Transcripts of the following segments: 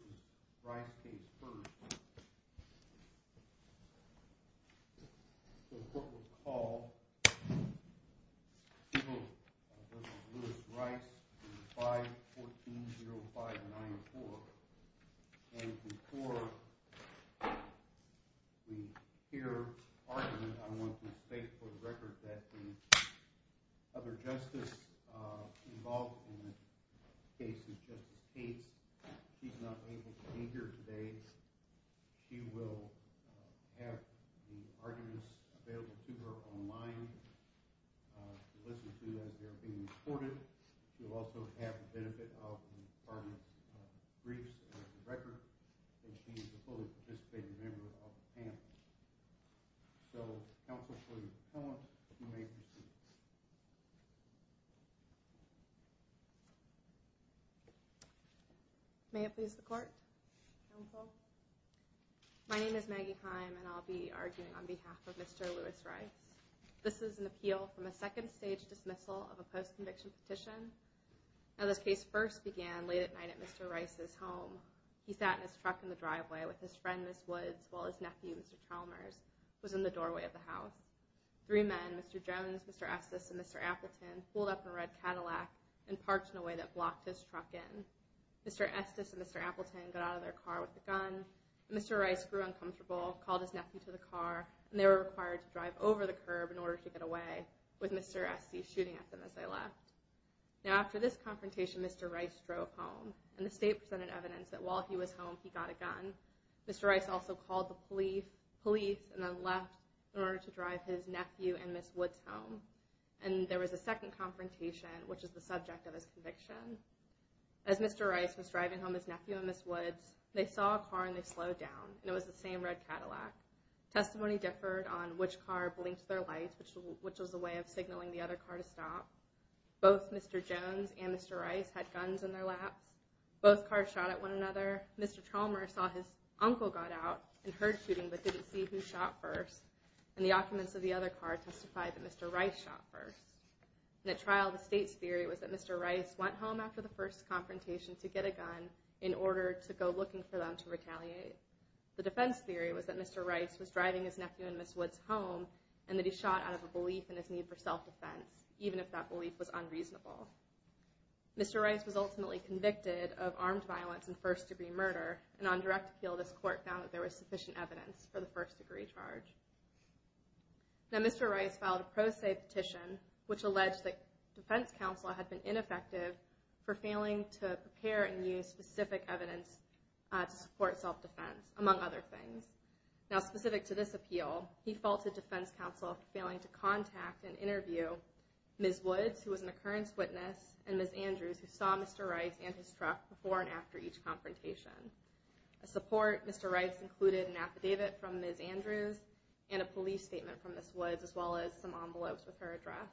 v. Lewis Rice, 5-14-0594. And before we hear argument, I want to state for the record that the other justice involved in the case is Justice Cates. She's not able to be here today. She will have the arguments available to her online to listen to as they are being recorded. She will also have the benefit of the department's briefs and the record. And she is a fully participated member of the panel. So counsel, for your comment, you may proceed. My name is Maggie Heim and I'll be arguing on behalf of Mr. Lewis Rice. This is an appeal from a second stage dismissal of a post-conviction petition. Now, this case first began late at night at Mr. Rice's home. He sat in his truck in the driveway with his friend, Ms. Woods, while his nephew, Mr. Chalmers, was in the doorway of the house. Three men, Mr. Jones, Mr. Estes, and Mr. Appleton, pulled up in a red Cadillac and parked in a way that blocked his truck in. Mr. Estes and Mr. Appleton got out of their car with a gun. Mr. Rice grew uncomfortable, called his nephew to the car, and they were required to drive over the curb in order to get away with Mr. Estes shooting at them as they left. Now, after this confrontation, Mr. Rice drove home and the state presented evidence that while he was home, he got a gun. Mr. Rice also called the police and then left in order to drive his nephew and Ms. Woods home. And there was a second confrontation, which is the subject of this conviction. As Mr. Rice was driving home with his nephew and Ms. Woods, they saw a car and they slowed down, and it was the same red Cadillac. Testimony differed on which car blinked their lights, which was a way of signaling the other car to stop. Both Mr. Jones and Mr. Rice had guns in their laps. Both cars shot at one another. Mr. Tralmer saw his uncle got out and heard shooting but didn't see who shot first, and the occupants of the other car testified that Mr. Rice shot first. In the trial, the state's theory was that Mr. Rice went home after the first confrontation to get a gun in order to go looking for them to retaliate. The defense theory was that Mr. Rice was driving his nephew and Ms. Woods home and that he shot out of a belief in his need for self-defense, even if that belief was unreasonable. Mr. Rice was ultimately convicted of armed violence and first-degree murder, and on direct appeal, this court found that there was sufficient evidence for the first-degree charge. Now, Mr. Rice filed a pro se petition, which alleged that defense counsel had been ineffective for failing to prepare and use specific evidence to support self-defense, among other things. Now, specific to this appeal, he faulted defense counsel for failing to contact and interview Ms. Woods, who was an occurrence witness, and Ms. Andrews, who saw Mr. Rice and his truck before and after each confrontation. As support, Mr. Rice included an affidavit from Ms. Andrews and a police statement from Ms. Woods, as well as some envelopes with her address.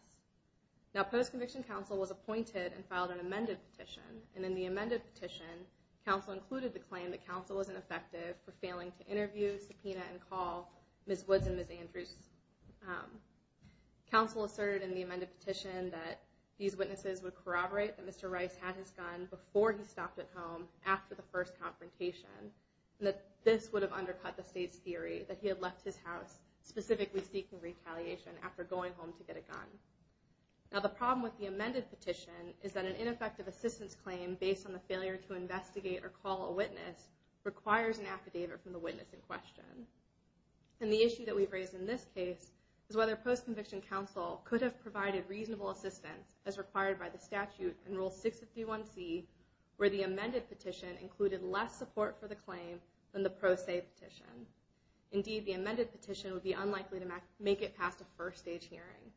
Now, post-conviction counsel was appointed and filed an amended petition, and in the amended petition, counsel included the claim that counsel was ineffective for failing to interview, subpoena, and call Ms. Woods and Ms. Andrews. Counsel asserted in the amended petition that these witnesses would corroborate that Mr. Rice had his gun before he stopped at home after the first confrontation, and that this would have undercut the state's theory that he had left his house specifically seeking retaliation after going home to get a gun. Now, the problem with the amended petition is that an ineffective assistance claim based on the failure to investigate or call a witness requires an affidavit from the witness in question. And the issue that we've raised in this case is whether post-conviction counsel could have provided reasonable assistance as required by the statute in Rule 651C, where the amended petition included less support for the claim than the pro se petition. Indeed, the amended petition would be unlikely to make it past a first-stage hearing.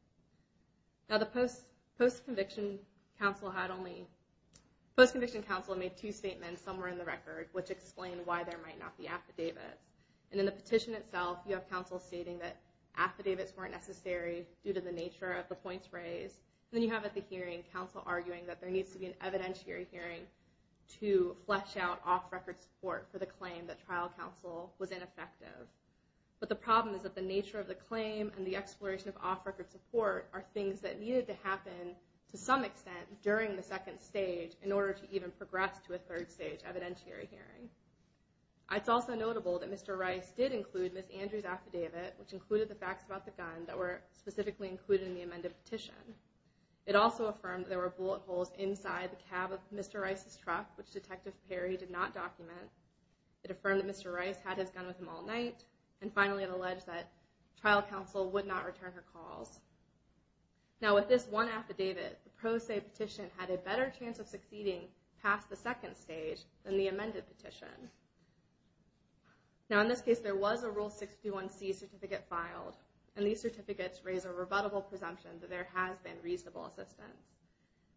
Now, the post-conviction counsel made two statements somewhere in the record which explained why there might not be affidavits. And in the petition itself, you have counsel stating that affidavits weren't necessary due to the nature of the points raised. And then you have at the hearing counsel arguing that there needs to be an evidentiary hearing to flesh out off-record support for the claim that trial counsel was ineffective. But the problem is that the nature of the claim and the exploration of off-record support are things that needed to happen to some extent during the second stage in order to even progress to a third-stage evidentiary hearing. It's also notable that Mr. Rice did include Ms. Andrews' affidavit, which included the facts about the gun that were specifically included in the amended petition. It also affirmed that there were bullet holes inside the cab of Mr. Rice's truck, which Detective Perry did not document. It affirmed that Mr. Rice had his gun with him all night. And finally, it alleged that trial counsel would not return her calls. Now, with this one affidavit, the pro se petition had a better chance of succeeding past the second stage than the amended petition. Now, in this case, there was a Rule 61c certificate filed, and these certificates raise a rebuttable presumption that there has been reasonable assistance.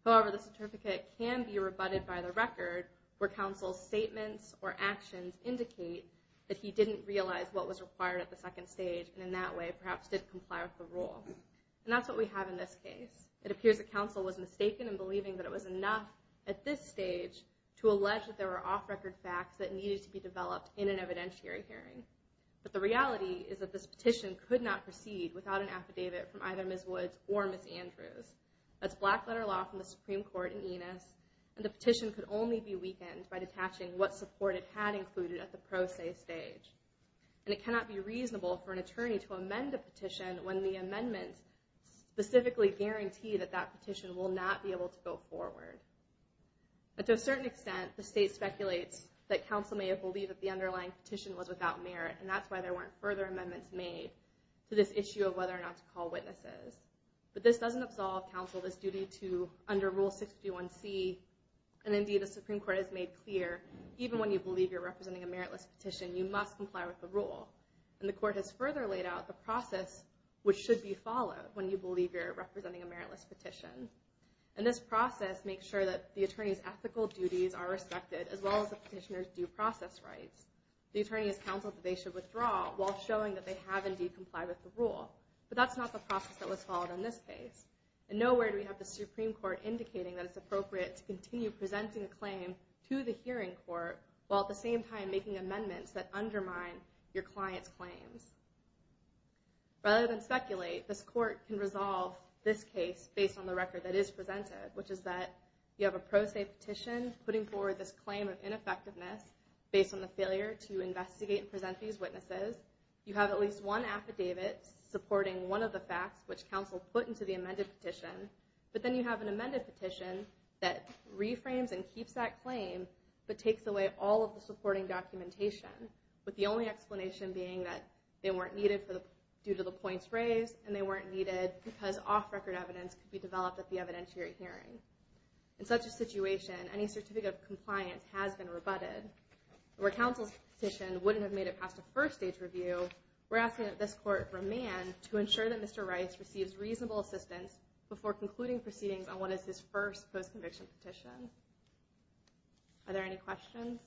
However, the certificate can be rebutted by the record where counsel's statements or actions indicate that he didn't realize what was required at the second stage, and in that way, perhaps didn't comply with the rule. And that's what we have in this case. It appears that counsel was mistaken in believing that it was enough at this stage to allege that there were off-record facts that needed to be developed in an evidentiary hearing. But the reality is that this petition could not proceed without an affidavit from either Ms. Woods or Ms. Andrews. That's black-letter law from the Supreme Court in Enos, and the petition could only be weakened by detaching what support it had included at the pro se stage. And it cannot be reasonable for an attorney to amend a petition when the amendments specifically guarantee that that petition will not be able to go forward. But to a certain extent, the state speculates that counsel may have believed that the underlying petition was without merit, and that's why there weren't further amendments made to this issue of whether or not to call witnesses. But this doesn't absolve counsel of his duty to, under Rule 61c, and indeed the Supreme Court has made clear, even when you believe you're representing a meritless petition, you must comply with the rule. And the Court has further laid out the process which should be followed when you believe you're representing a meritless petition. And this process makes sure that the attorney's ethical duties are respected, as well as the petitioner's due process rights. The attorney has counseled that they should withdraw, while showing that they have indeed complied with the rule. But that's not the process that was followed in this case. And nowhere do we have the Supreme Court indicating that it's appropriate to continue presenting a claim to the hearing court, while at the same time making amendments that undermine your client's claims. Rather than speculate, this Court can resolve this case based on the record that is presented, which is that you have a pro se petition putting forward this claim of ineffectiveness, based on the failure to investigate and present these witnesses. You have at least one affidavit supporting one of the facts which counsel put into the amended petition. But then you have an amended petition that reframes and keeps that claim, but takes away all of the supporting documentation, with the only explanation being that they weren't needed due to the points raised, and they weren't needed because off-record evidence could be developed at the evidentiary hearing. In such a situation, any certificate of compliance has been rebutted. Where counsel's petition wouldn't have made it past a first-stage review, we're asking that this Court remand to ensure that Mr. Rice receives reasonable assistance before concluding proceedings on what is his first post-conviction petition. Are there any questions?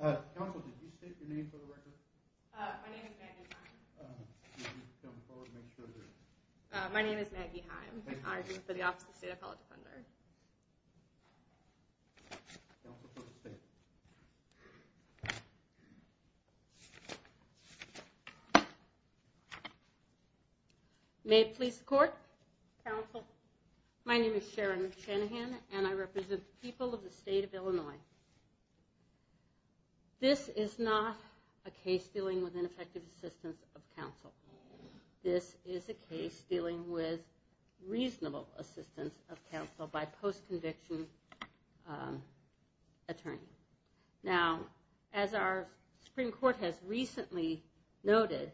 Counsel, did you state your name for the record? My name is Maggie Heim. I represent the Office of the State Appellate Defender. May it please the Court. Counsel. My name is Sharon Shanahan, and I represent the people of the State of Illinois. This is not a case dealing with ineffective assistance of counsel. This is a case dealing with reasonable assistance of counsel by post-conviction attorney. Now, as our Supreme Court has recently noted,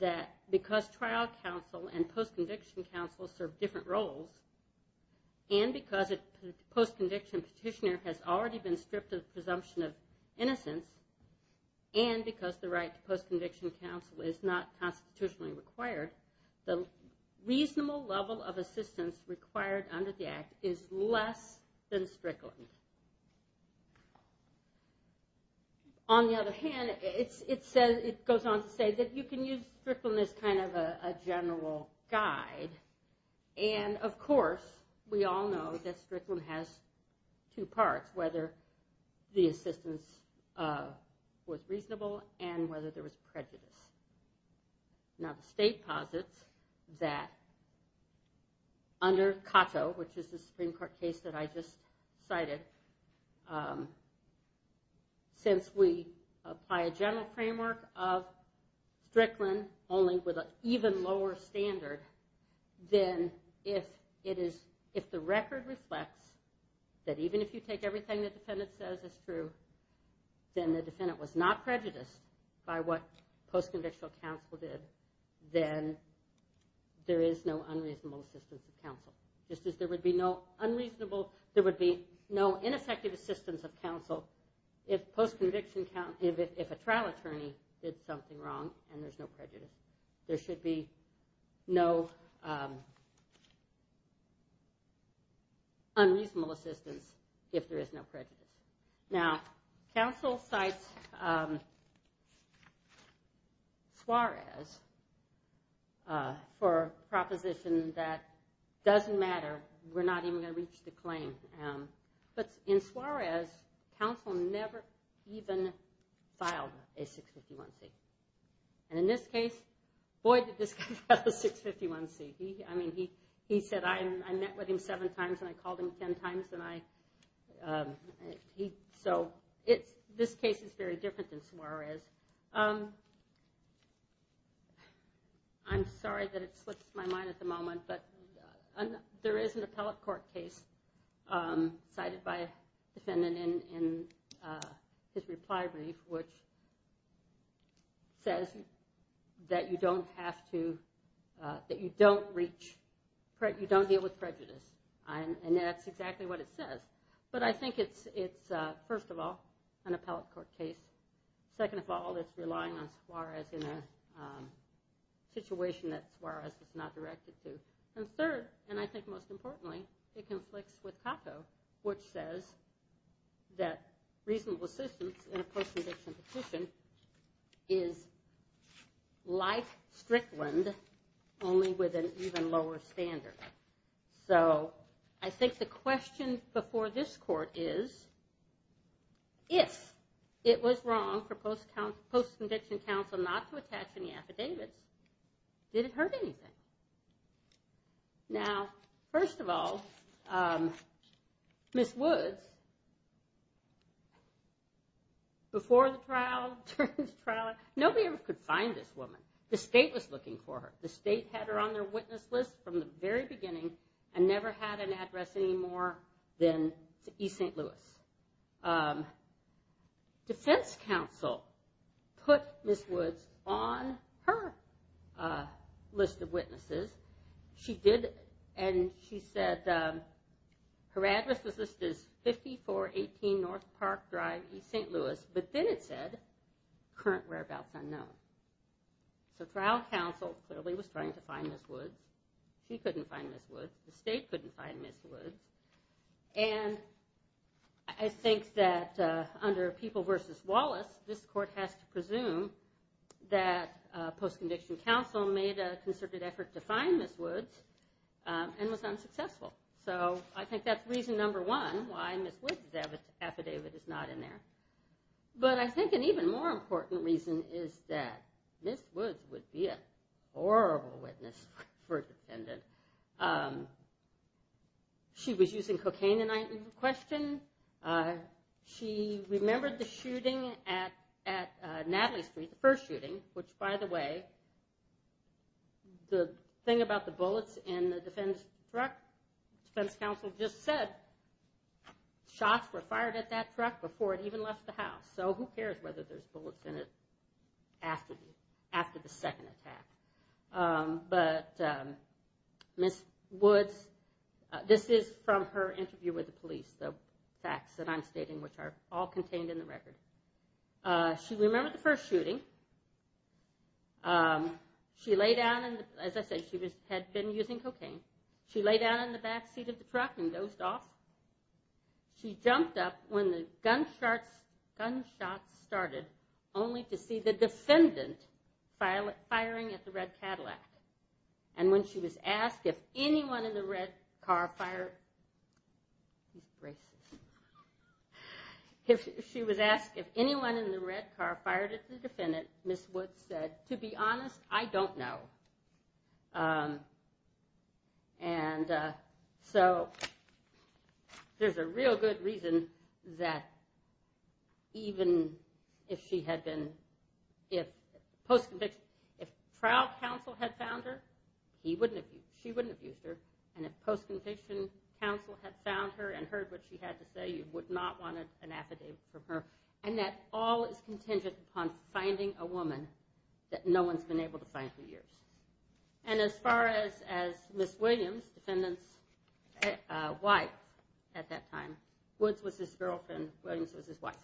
that because trial counsel and post-conviction counsel serve different roles, and because a post-conviction petitioner has already been stripped of the presumption of innocence, and because the right to post-conviction counsel is not constitutionally required, the reasonable level of assistance required under the Act is less than Strickland. On the other hand, it goes on to say that you can use Strickland as kind of a general guide, and of course we all know that Strickland has two parts, whether the assistance was reasonable and whether there was prejudice. Now, the State posits that under Cato, which is the Supreme Court case that I just cited, since we apply a general framework of Strickland only with an even lower standard, then if the record reflects that even if you take everything the defendant says as true, then the defendant was not prejudiced by what post-convictional counsel did, then there is no unreasonable assistance of counsel. Just as there would be no unreasonable, there would be no ineffective assistance of counsel if a trial attorney did something wrong and there's no prejudice. There should be no unreasonable assistance if there is no prejudice. Now, counsel cites Suarez for a proposition that doesn't matter, we're not even going to reach the claim. But in Suarez, counsel never even filed a 651C. And in this case, boy did this guy file a 651C. I mean, he said, I met with him seven times and I called him ten times, and so this case is very different than Suarez. I'm sorry that it slips my mind at the moment, but there is an appellate court case cited by a defendant in his reply brief which says that you don't have to, that you don't reach, you don't deal with prejudice. And that's exactly what it says. But I think it's, first of all, an appellate court case. Second of all, it's relying on Suarez in a situation that Suarez was not directed to. And third, and I think most importantly, it conflicts with COCO, which says that reasonable assistance in a post-conviction petition is like Strickland, only with an even lower standard. So I think the question before this court is, if it was wrong for post-conviction counsel not to attach any affidavits, did it hurt anything? Now, first of all, Ms. Woods, before the trial, during the trial, nobody ever could find this woman. The state was looking for her. The state had her on their witness list from the very beginning and never had an address any more than East St. Louis. Defense counsel put Ms. Woods on her list of witnesses. She did, and she said her address was listed as 5418 North Park Drive, East St. Louis. But then it said, current whereabouts unknown. So trial counsel clearly was trying to find Ms. Woods. She couldn't find Ms. Woods. The state couldn't find Ms. Woods. And I think that under People v. Wallace, this court has to presume that post-conviction counsel made a concerted effort to find Ms. Woods and was unsuccessful. So I think that's reason number one why Ms. Woods' affidavit is not in there. But I think an even more important reason is that Ms. Woods would be a horrible witness for a defendant. She was using cocaine in question. She remembered the shooting at Natalie Street, the first shooting, which, by the way, the thing about the bullets in the defense truck, defense counsel just said shots were fired at that truck before it even left the house. So who cares whether there's bullets in it after the second attack. But Ms. Woods, this is from her interview with the police, the facts that I'm stating, which are all contained in the record. She remembered the first shooting. She lay down and, as I said, she had been using cocaine. She lay down in the back seat of the truck and dozed off. She jumped up when the gunshots started only to see the defendant firing at the red Cadillac. And when she was asked if anyone in the red car fired at the defendant, Ms. Woods said, to be honest, I don't know. And so there's a real good reason that even if she had been, if post-conviction, if trial counsel had found her, she wouldn't have used her. And if post-conviction counsel had found her and heard what she had to say, you would not want an affidavit from her. And that all is contingent upon finding a woman that no one's been able to find for years. And as far as Ms. Williams, defendant's wife at that time, Woods was his girlfriend, Williams was his wife,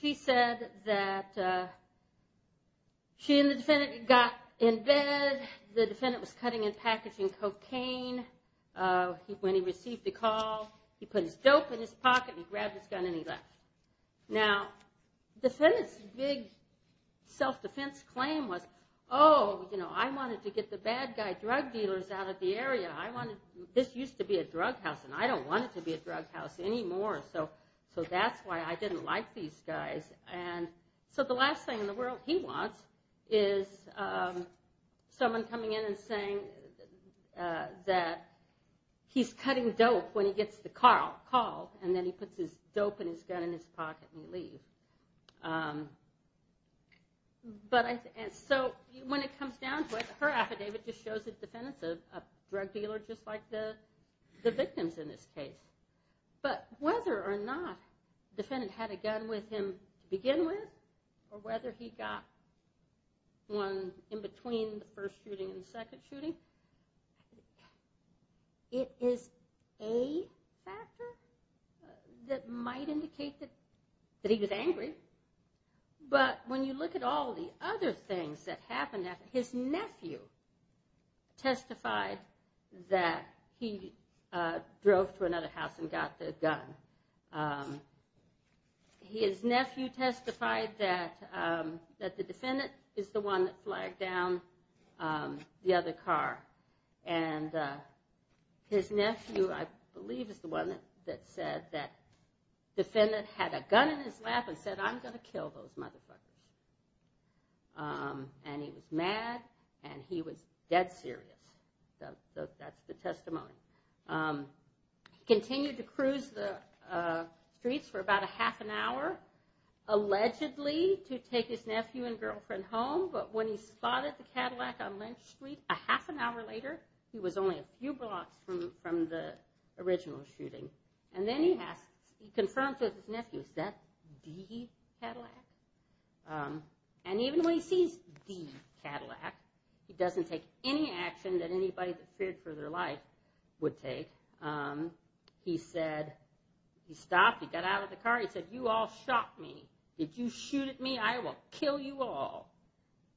she said that she and the defendant got in bed. The defendant was cutting and packaging cocaine. When he received the call, he put his dope in his pocket and he grabbed his gun and he left. Now, defendant's big self-defense claim was, oh, you know, I wanted to get the bad guy drug dealers out of the area. This used to be a drug house and I don't want it to be a drug house anymore. So that's why I didn't like these guys. And so the last thing in the world he wants is someone coming in and saying that he's cutting dope when he gets the call, and then he puts his dope and his gun in his pocket and he leaves. So when it comes down to it, her affidavit just shows that the defendant's a drug dealer, just like the victims in this case. But whether or not the defendant had a gun with him to begin with, or whether he got one in between the first shooting and the second shooting, it is a factor that might indicate that he was angry. But when you look at all the other things that happened, his nephew testified that he drove to another house and got the gun. His nephew testified that the defendant is the one that flagged down the other car. And his nephew, I believe, is the one that said that the defendant had a gun in his lap and said, I'm going to kill those motherfuckers. And he was mad and he was dead serious. That's the testimony. He continued to cruise the streets for about a half an hour, allegedly to take his nephew and girlfriend home, but when he spotted the Cadillac on Lynch Street, a half an hour later, he was only a few blocks from the original shooting. And then he confirms with his nephew, is that the Cadillac? And even when he sees the Cadillac, he doesn't take any action that anybody that feared for their life would take. He said, he stopped, he got out of the car, he said, you all shot me. Did you shoot at me? I will kill you all.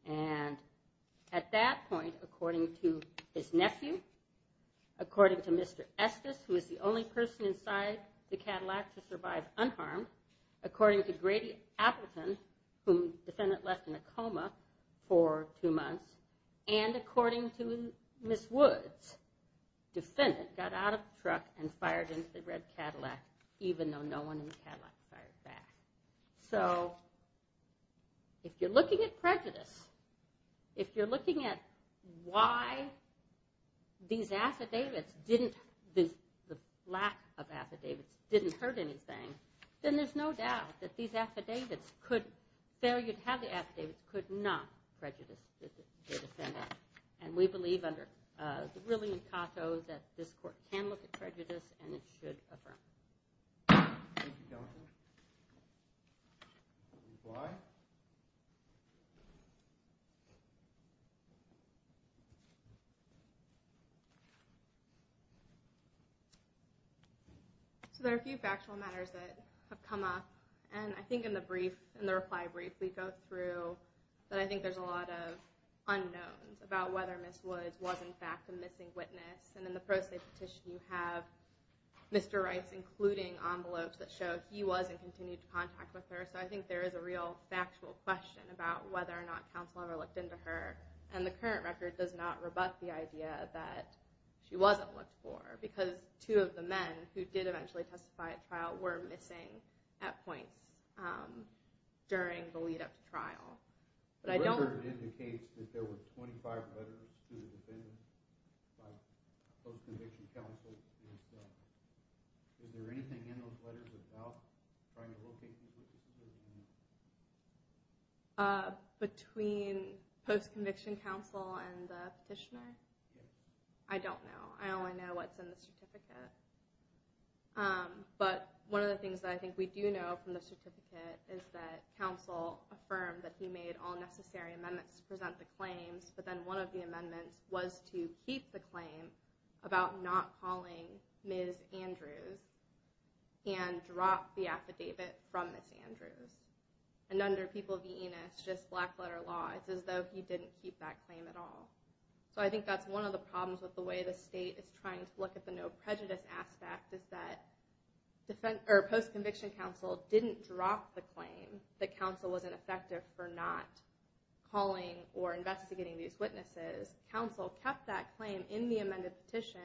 And at that point, according to his nephew, according to Mr. Estes, who is the only person inside the Cadillac to survive unharmed, according to Grady Appleton, whom the defendant left in a coma for two months, and according to Ms. Woods, the defendant got out of the truck and fired into the red Cadillac even though no one in the Cadillac fired back. So if you're looking at prejudice, if you're looking at why these affidavits didn't, the lack of affidavits didn't hurt anything, then there's no doubt that these affidavits could, failure to have the affidavits could not prejudice the defendant. And we believe under the ruling in Cato that this court can look at prejudice and it should affirm. Thank you, counsel. Ms. Bly? So there are a few factual matters that have come up. And I think in the brief, in the reply brief, we go through that I think there's a lot of unknowns about whether Ms. Woods was in fact a missing witness. And in the pro se petition you have Mr. Rice including envelopes that show he was in continued contact with her. So I think there is a real fairness there. about whether or not counsel ever looked into her. And the current record does not rebut the idea that she wasn't looked for because two of the men who did eventually testify at trial were missing at points during the lead up to trial. The record indicates that there were 25 letters to the defendant by post-conviction counsel. Is there anything in those letters about trying to locate the witnesses? Between post-conviction counsel and the petitioner? Yes. I don't know. I only know what's in the certificate. But one of the things that I think we do know from the certificate is that counsel affirmed that he made all necessary amendments to present the claims, but then one of the amendments was to keep the claim about not calling Ms. Andrews and drop the affidavit from Ms. Andrews. And under People v. Enos, just black letter law, it's as though he didn't keep that claim at all. So I think that's one of the problems with the way the state is trying to look at the no prejudice aspect is that post-conviction counsel didn't drop the affidavits to these witnesses. Counsel kept that claim in the amended petition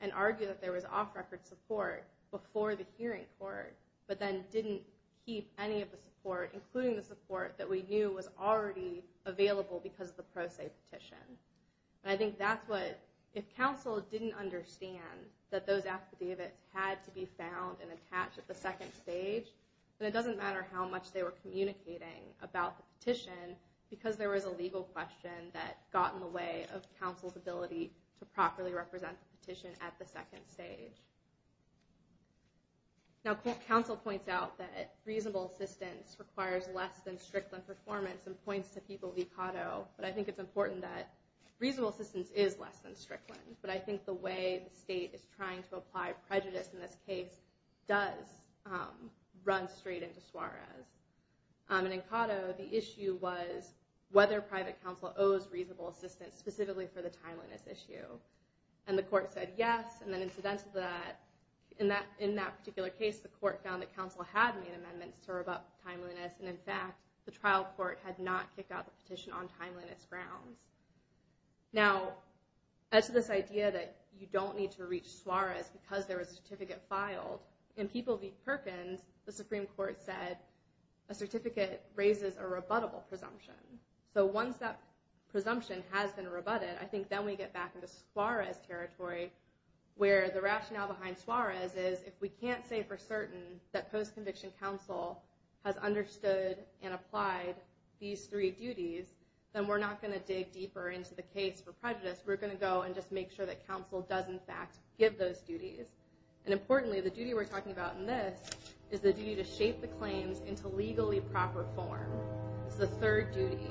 and argued that there was off-record support before the hearing court, but then didn't keep any of the support, including the support that we knew was already available because of the pro se petition. And I think that's what – if counsel didn't understand that those affidavits had to be found and attached at the second stage, then it doesn't matter how much they were communicating about the petition because there was a legal question that got in the way of counsel's ability to properly represent the petition at the second stage. Now, counsel points out that reasonable assistance requires less than strickland performance and points to People v. Cotto, but I think it's important that reasonable assistance is less than strickland, but I think the way the state is trying to apply prejudice in this case does run straight into Suarez. And in Cotto, the issue was whether private counsel owes reasonable assistance specifically for the timeliness issue. And the court said yes, and then incidentally, in that particular case, the court found that counsel had made amendments to revoke timeliness, and, in fact, the trial court had not kicked out the petition on timeliness grounds. Now, as to this idea that you don't need to reach Suarez because there was a certificate raises a rebuttable presumption. So once that presumption has been rebutted, I think then we get back into Suarez territory where the rationale behind Suarez is if we can't say for certain that post-conviction counsel has understood and applied these three duties, then we're not going to dig deeper into the case for prejudice. We're going to go and just make sure that counsel does, in fact, give those duties. And importantly, the duty we're talking about in this is the duty to shape the case into legally proper form. It's the third duty.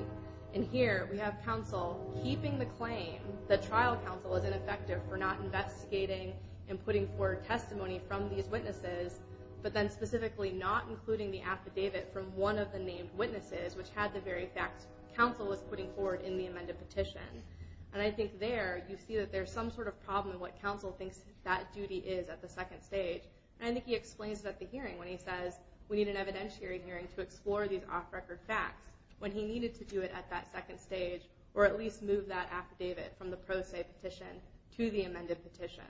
And here we have counsel keeping the claim that trial counsel is ineffective for not investigating and putting forward testimony from these witnesses, but then specifically not including the affidavit from one of the named witnesses, which had the very facts counsel was putting forward in the amended petition. And I think there you see that there's some sort of problem in what counsel thinks that duty is at the second stage. And I think he explains it at the hearing when he says we need an evidentiary hearing to explore these off-record facts when he needed to do it at that second stage or at least move that affidavit from the pro se petition to the amended petition.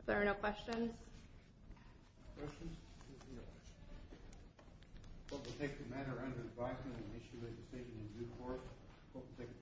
If there are no questions. Questions? If there are no questions, we'll take the matter under review and issue legislation in due course.